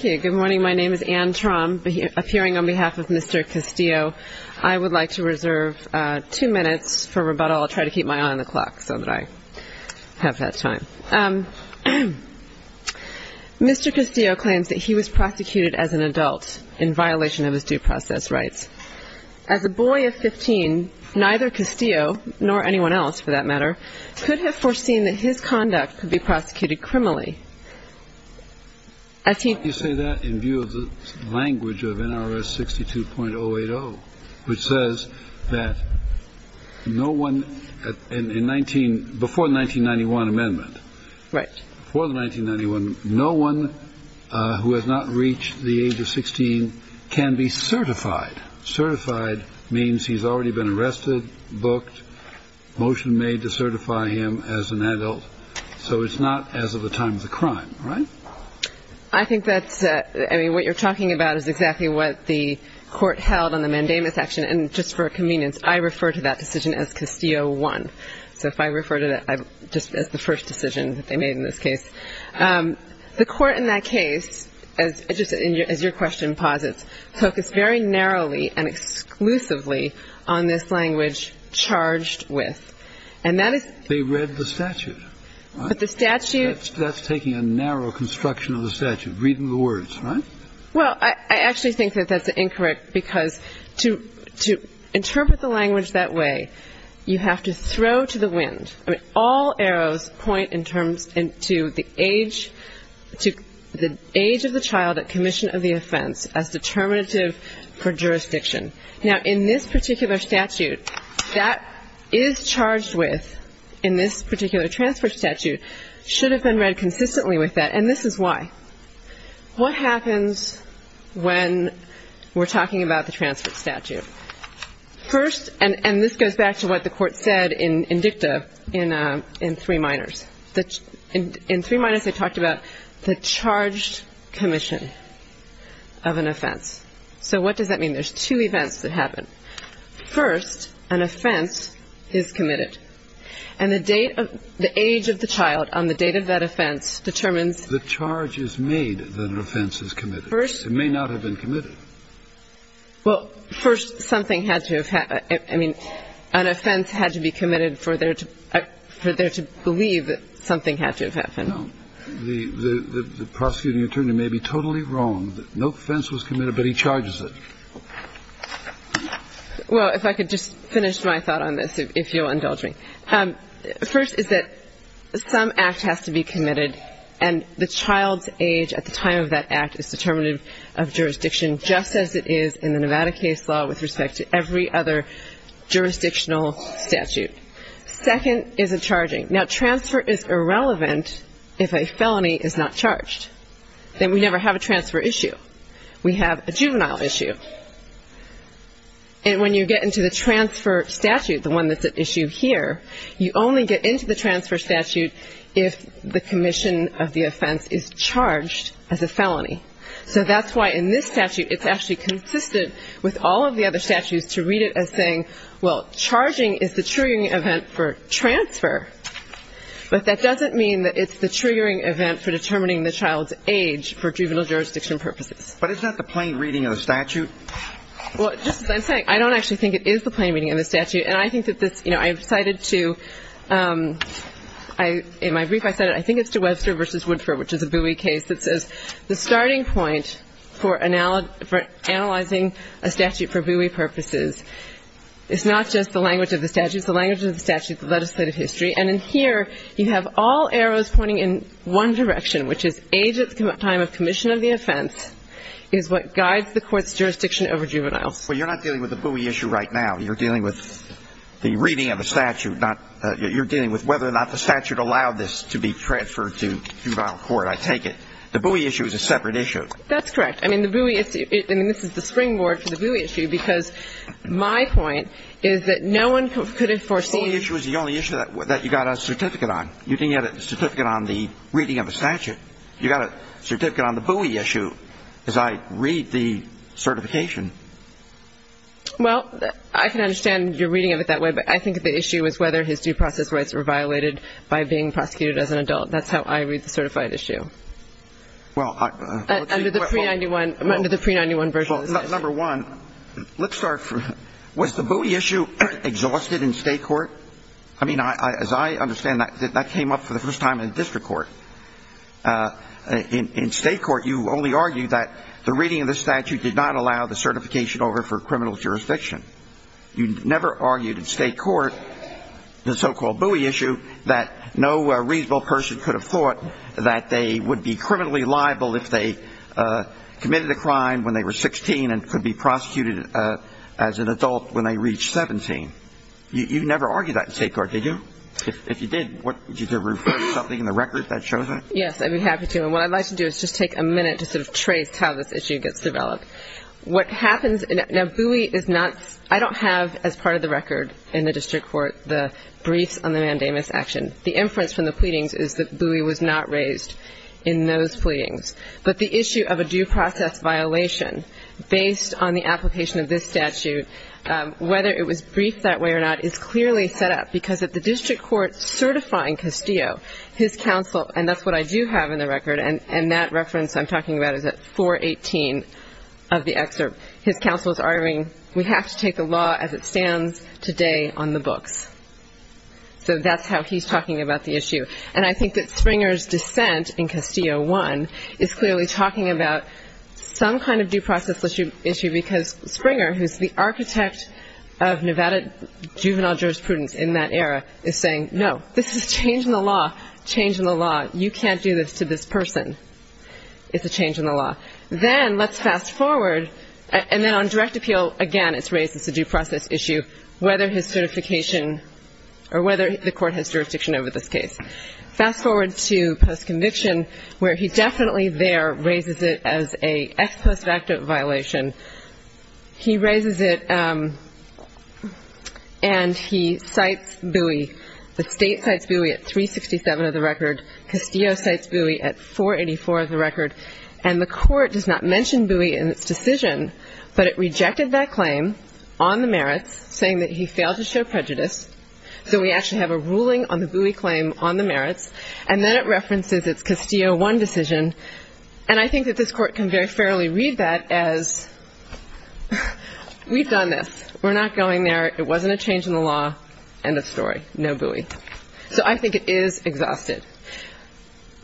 Good morning, my name is Anne Traum, appearing on behalf of Mr. Castillo. I would like to reserve two minutes for rebuttal. I'll try to keep my eye on the clock so that I have that time. Mr. Castillo claims that he was prosecuted as an adult in violation of his due process rights. As a boy of 15, neither Castillo, nor anyone else for that matter, could have foreseen that his conduct could be prosecuted criminally. Why do you say that in view of the language of NRS 62.080, which says that before the 1991 amendment, no one who has not reached the age of 16 can be certified. Certified means he's already been arrested, booked, motion made to certify him as an adult. So it's not as of the time of the crime, right? I think that's what you're talking about is exactly what the court held on the mandamus action. And just for convenience, I refer to that decision as Castillo one. So if I refer to that just as the first decision that they made in this case. The court in that case, as your question posits, focused very narrowly and exclusively on this language charged with. And that is. They read the statute. But the statute. That's taking a narrow construction of the statute, reading the words, right? Well, I actually think that that's incorrect, because to interpret the language that way, you have to throw to the wind. I mean, all arrows point in terms to the age of the child at commission of the offense as determinative for jurisdiction. Now, in this particular statute, that is charged with, in this particular transfer statute, should have been read consistently with that. And this is why. What happens when we're talking about the transfer statute? First, and this goes back to what the court said in dicta in three minors. In three minors, they talked about the charged commission of an offense. So what does that mean? There's two events that happen. First, an offense is committed. And the date of the age of the child on the date of that offense determines. The charge is made that an offense is committed. It may not have been committed. Well, first, something had to have happened. I mean, an offense had to be committed for there to believe that something had to have happened. No. The prosecuting attorney may be totally wrong that no offense was committed, but he charges it. Well, if I could just finish my thought on this, if you'll indulge me. First is that some act has to be committed, and the child's age at the time of that act is determinative of jurisdiction, just as it is in the Nevada case law with respect to every other jurisdictional statute. Second is a charging. Now, transfer is irrelevant if a felony is not charged. Then we never have a transfer issue. We have a juvenile issue. And when you get into the transfer statute, the one that's at issue here, you only get into the transfer statute if the commission of the offense is charged as a felony. So that's why in this statute, it's actually consistent with all of the other statutes to read it as saying, well, charging is the triggering event for transfer, but that doesn't mean that it's the triggering event for determining the child's age for juvenile jurisdiction purposes. But is that the plain reading of the statute? Well, just as I'm saying, I don't actually think it is the plain reading of the statute. And I think that this ‑‑ you know, I've cited to ‑‑ in my brief I said it. I think it's to Webster v. Woodford, which is a Bowie case, that says, the starting point for analyzing a statute for Bowie purposes is not just the language of the statute. It's the language of the statute, the legislative history. And in here, you have all arrows pointing in one direction, which is age at the time of commission of the offense is what guides the court's jurisdiction over juveniles. Well, you're not dealing with the Bowie issue right now. You're dealing with the reading of the statute, not ‑‑ you're dealing with whether or not the statute allowed this to be transferred to juvenile court, I take it. The Bowie issue is a separate issue. That's correct. I mean, the Bowie issue ‑‑ I mean, this is the springboard for the Bowie issue, because my point is that no one could have foreseen ‑‑ The only issue is the only issue that you got a certificate on. You didn't get a certificate on the reading of a statute. You got a certificate on the Bowie issue, as I read the certification. Well, I can understand your reading of it that way, but I think the issue is whether his due process rights were violated by being prosecuted as an adult. That's how I read the certified issue. Well, I ‑‑ Under the pre‑91 version of the statute. Well, number one, let's start from ‑‑ was the Bowie issue exhausted in state court? I mean, as I understand that, that came up for the first time in district court. In state court, you only argued that the reading of the statute did not allow the certification over for criminal jurisdiction. You never argued in state court, the so‑called Bowie issue, that no reasonable person could have thought that they would be criminally liable if they committed a crime when they were 16 and could be prosecuted as an adult when they reached 17. You never argued that in state court, did you? If you did, would you have referred something in the record that shows that? Yes, I'd be happy to. And what I'd like to do is just take a minute to sort of trace how this issue gets developed. What happens ‑‑ now, Bowie is not ‑‑ I don't have as part of the record in the district court the briefs on the mandamus action. The inference from the pleadings is that Bowie was not raised in those pleadings. But the issue of a due process violation based on the application of this statute, whether it was briefed that way or not, is clearly set up. Because at the district court certifying Castillo, his counsel ‑‑ and that's what I do have in the record, and that reference I'm talking about is at 418 of the excerpt. His counsel is arguing we have to take the law as it stands today on the books. So that's how he's talking about the issue. And I think that Springer's dissent in Castillo 1 is clearly talking about some kind of due process issue because Springer, who's the architect of Nevada juvenile jurisprudence in that era, is saying, no, this is a change in the law, change in the law. You can't do this to this person. It's a change in the law. Then let's fast forward, and then on direct appeal, again, it's raised as a due process issue, whether his certification or whether the court has jurisdiction over this case. Fast forward to postconviction, where he definitely there raises it as a ex post facto violation. He raises it and he cites Bowie. The state cites Bowie at 367 of the record. Castillo cites Bowie at 484 of the record. And the court does not mention Bowie in its decision, but it rejected that claim on the merits, saying that he failed to show prejudice. So we actually have a ruling on the Bowie claim on the merits. And then it references its Castillo 1 decision. And I think that this court can very fairly read that as we've done this. We're not going there. It wasn't a change in the law. End of story. No Bowie. So I think it is exhausted.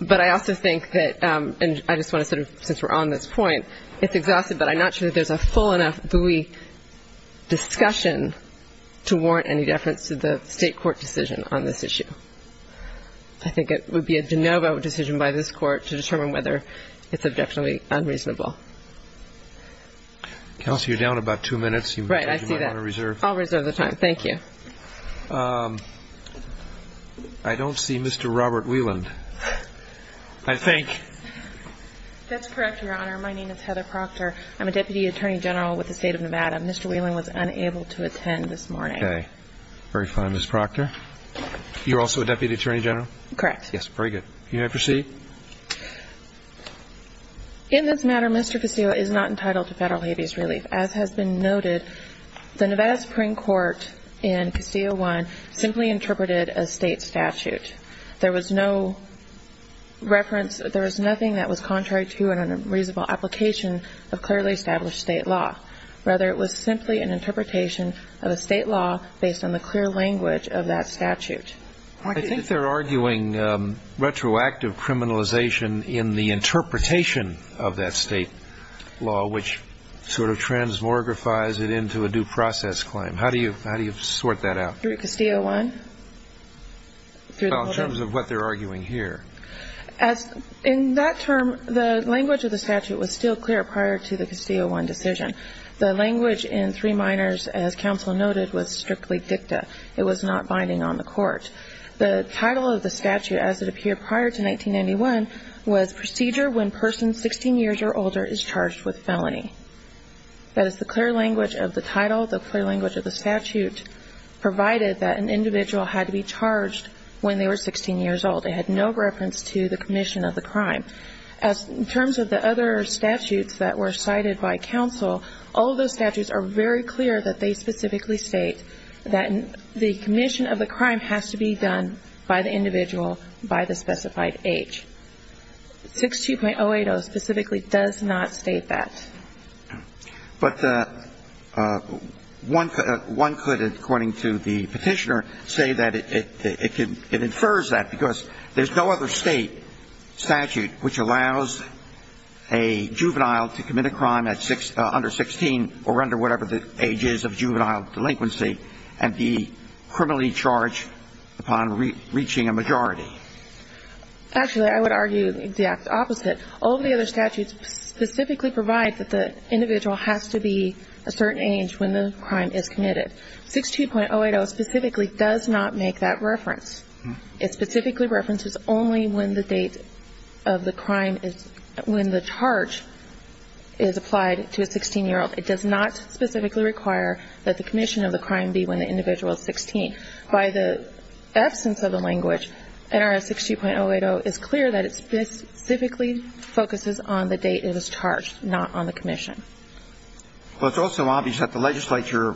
But I also think that, and I just want to sort of, since we're on this point, it's exhausted, but I'm not sure that there's a full enough Bowie discussion to warrant any deference to the State court decision on this issue. I think it would be a de novo decision by this court to determine whether it's objectionably unreasonable. Counsel, you're down about two minutes. You might want to reserve. I'll reserve the time. Thank you. I don't see Mr. Robert Wieland, I think. That's correct, Your Honor. My name is Heather Proctor. I'm a Deputy Attorney General with the State of Nevada. Mr. Wieland was unable to attend this morning. Okay. Very fine, Ms. Proctor. You're also a Deputy Attorney General? Correct. Yes, very good. You may proceed. In this matter, Mr. Castillo is not entitled to federal habeas relief. As has been noted, the Nevada Supreme Court in Castillo 1 simply interpreted a state statute. There was no reference, there was nothing that was contrary to a reasonable application of clearly established state law. Rather, it was simply an interpretation of a state law based on the clear language of that statute. I think they're arguing retroactive criminalization in the interpretation of that state law, which sort of transmogrifies it into a due process claim. How do you sort that out? Through Castillo 1? Well, in terms of what they're arguing here. In that term, the language of the statute was still clear prior to the Castillo 1 decision. The language in three minors, as counsel noted, was strictly dicta. It was not binding on the court. The title of the statute, as it appeared prior to 1991, was procedure when person 16 years or older is charged with felony. That is the clear language of the title, the clear language of the statute, provided that an individual had to be charged when they were 16 years old. It had no reference to the commission of the crime. In terms of the other statutes that were cited by counsel, all those statutes are very clear that they specifically state that the commission of the crime has to be done by the individual by the specified age. 62.080 specifically does not state that. But one could, according to the petitioner, say that it infers that because there's no other state statute which allows a juvenile to commit a crime at under 16 or under whatever the age is of juvenile delinquency and be criminally charged upon reaching a majority. Actually, I would argue the exact opposite. All of the other statutes specifically provide that the individual has to be a certain age when the crime is committed. 62.080 specifically does not make that reference. It specifically references only when the date of the crime is – when the charge is applied to a 16-year-old. It does not specifically require that the commission of the crime be when the individual is 16. And so, I would argue that the statute that's in front of me by the absence of the language, NRS 62.080, is clear that it specifically focuses on the date it was charged, not on the commission. Well, it's also obvious that the legislature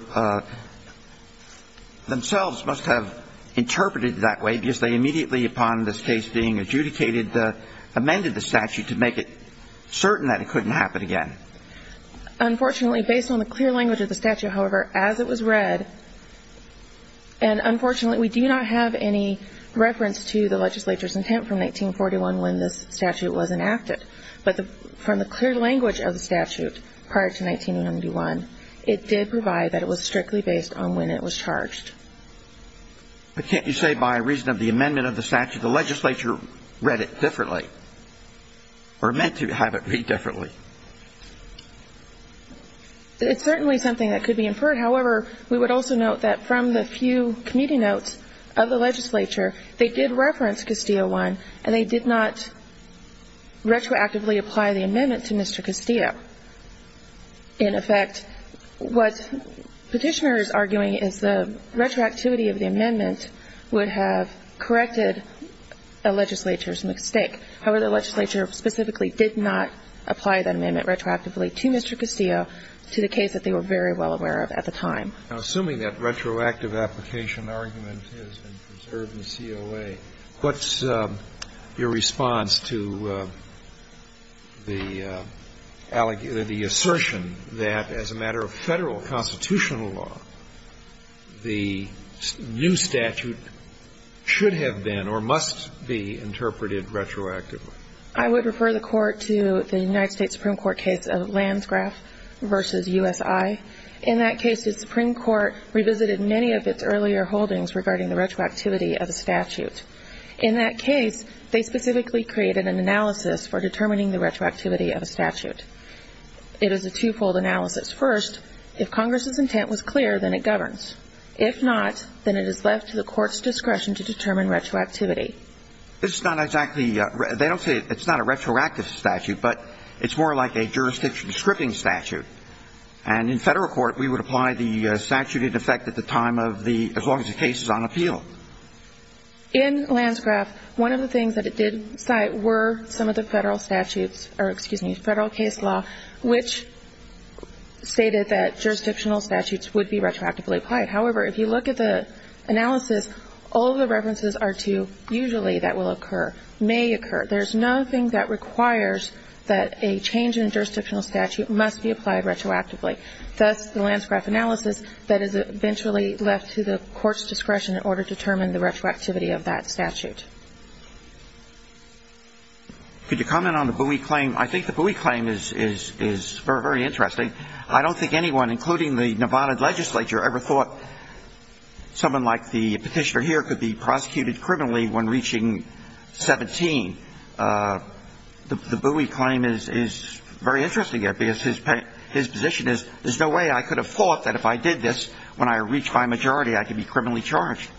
themselves must have interpreted that way because they immediately, upon this case being adjudicated, amended the statute to make it certain that it couldn't happen again. Unfortunately, based on the clear language of the statute, however, as it was read – and unfortunately, we do not have any reference to the legislature's intent from 1941 when this statute was enacted. But from the clear language of the statute prior to 1991, it did provide that it was strictly based on when it was charged. But can't you say by reason of the amendment of the statute, the legislature read it differently? Or meant to have it read differently? It's certainly something that could be inferred. However, we would also note that from the few committee notes of the legislature, they did reference Castillo I, and they did not retroactively apply the amendment to Mr. Castillo. In effect, what Petitioner is arguing is the retroactivity of the amendment would have corrected a legislature's mistake. However, the legislature specifically did not apply that amendment retroactively to Mr. Castillo to the case that they were very well aware of at the time. Now, assuming that retroactive application argument has been preserved in COA, what's your response to the assertion that as a matter of Federal constitutional law, the new statute should have been or must be interpreted retroactively I would refer the Court to the United States Supreme Court case of Lansgraf versus USI. In that case, the Supreme Court revisited many of its earlier holdings regarding the retroactivity of the statute. In that case, they specifically created an analysis for determining the retroactivity of a statute. It is a twofold analysis. First, if Congress's intent was clear, then it governs. If not, then it is left to the Court's discretion to determine retroactivity. This is not exactly, they don't say it's not a retroactive statute, but it's more like a jurisdiction scripting statute. And in Federal court, we would apply the statute in effect at the time of the, as long as the case is on appeal. In Lansgraf, one of the things that it did cite were some of the Federal statutes, or excuse me, the Federal case law, which stated that jurisdictional statutes would be retroactively applied. However, if you look at the analysis, all the references are to usually that will occur, may occur. There's nothing that requires that a change in jurisdictional statute must be applied retroactively. That's the Lansgraf analysis that is eventually left to the Court's discretion in order to determine the retroactivity of that statute. Could you comment on the Bowie claim? I think the Bowie claim is very interesting. I don't think anyone, including the Nevada legislature, ever thought someone like the Petitioner here could be prosecuted criminally when reaching 17. The Bowie claim is very interesting, because his position is there's no way I could have thought that if I did this, when I reach my majority, I could be criminally charged.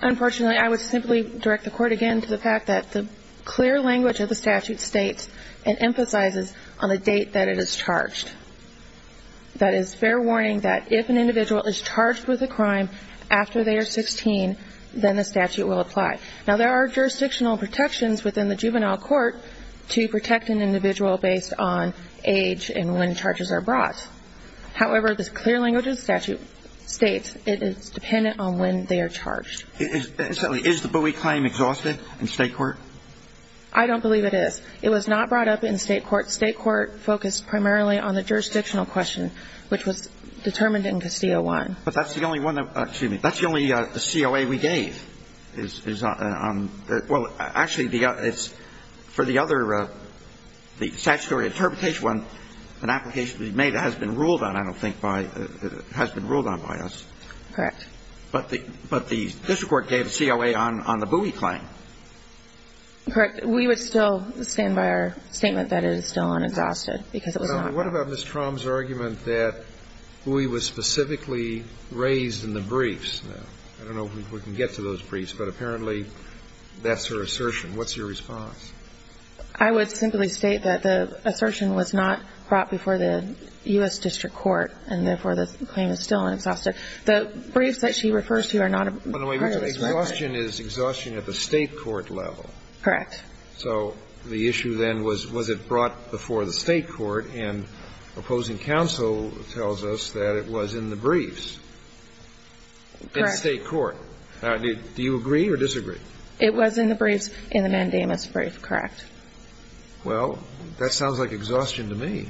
Unfortunately, I would simply direct the Court again to the fact that the clear language of the statute states and emphasizes on the date that it is charged. That is fair warning that if an individual is charged with a crime after they are 16, then the statute will apply. Now, there are jurisdictional protections within the juvenile court to protect an individual based on age and when charges are brought. However, the clear language of the statute states it is dependent on when they are charged. Is the Bowie claim exhaustive in State court? I don't believe it is. It was not brought up in State court. State court focused primarily on the jurisdictional question, which was determined into C01. But that's the only one that we gave. Well, actually, for the other, the statutory interpretation one, an application that has been ruled on, I don't think, has been ruled on by us. Correct. But the district court gave COA on the Bowie claim. Correct. We would still stand by our statement that it is still unexhausted, because it was not. What about Ms. Trom's argument that Bowie was specifically raised in the briefs? I don't know if we can get to those briefs, but apparently that's her assertion. What's your response? I would simply state that the assertion was not brought before the U.S. district court, and therefore, the claim is still unexhausted. The briefs that she refers to are not a brief. Exhaustion is exhaustion at the State court level. Correct. So the issue then was, was it brought before the State court, and opposing counsel tells us that it was in the briefs. Correct. In State court. Do you agree or disagree? It was in the briefs, in the Mandamus brief, correct. Well, that sounds like exhaustion to me.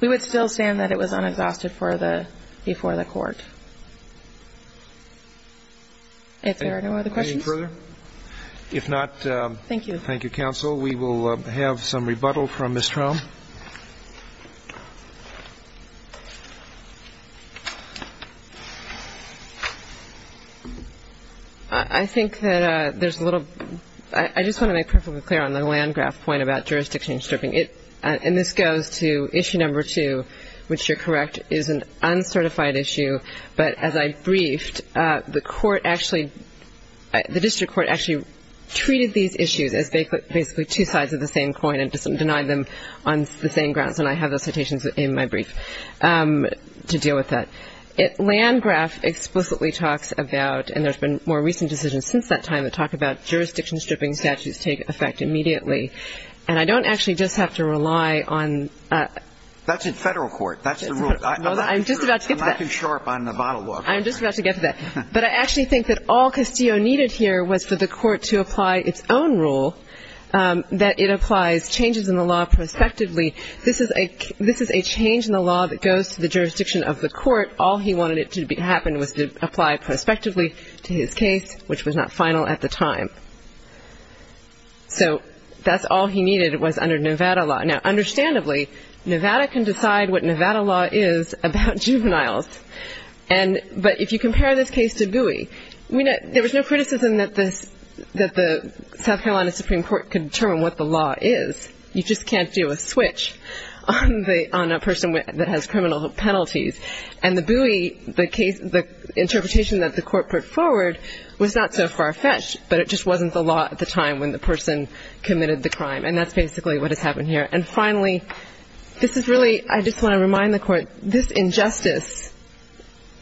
We would still stand that it was unexhausted before the court. If there are no other questions. Any further? If not, thank you, counsel. We will have some rebuttal from Ms. Trom. I think that there's a little ‑‑ I just want to make a point of the fact that I think that Ms. Trom's point about jurisdiction stripping, and this goes to issue number two, which you're correct, is an uncertified issue. But as I briefed, the court actually, the district court actually treated these issues as basically two sides of the same coin and denied them on the same grounds. And I have the citations in my brief to deal with that. Landgraf explicitly talks about, and there's been more recent decisions since that time, that talk about jurisdiction stripping statutes take effect immediately. And I don't actually just have to rely on... That's in Federal court. That's the rule. I'm just about to get to that. I'm not too sharp on the bottle law. I'm just about to get to that. But I actually think that all Castillo needed here was for the court to apply its own rule, that it applies changes in the law prospectively. This is a change in the law that goes to the jurisdiction of the court. All he wanted it to happen was to apply prospectively to his case, which was not final at the time. So that's all he needed was under Nevada law. Now, understandably, Nevada can decide what Nevada law is about juveniles. But if you compare this case to GUI, there was no criticism that the South Carolina Supreme Court could determine what the law is. You just can't do a switch on a person that has criminal penalties. And the GUI, the case, the interpretation that the court put forward was not so far-fetched, but it just wasn't the law at the time when the person committed the crime. And that's basically what has happened here. And finally, this is really, I just want to remind the court, this injustice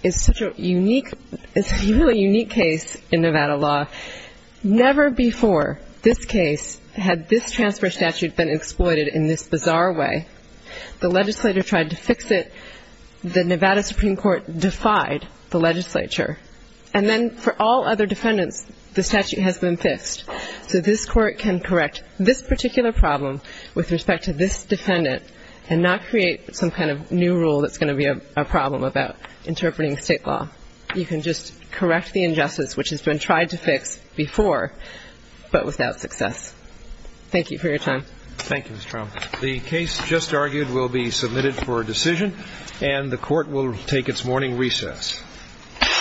is such a unique, it's a really unique case in Nevada law. Never before this case had this transfer statute been exploited in this bizarre way. The legislator tried to fix it. The Nevada Supreme Court defied the legislature. And then for all other defendants, the statute has been fixed. So this court can correct this particular problem with respect to this defendant and not create some kind of new rule that's going to be a problem about interpreting State law. You can just correct the injustice, which has been tried to fix before, but without success. Thank you for your time. Thank you, Mr. Trump. The case just argued will be submitted for a decision. And the court will take its morning recess. Thank you. Thank you.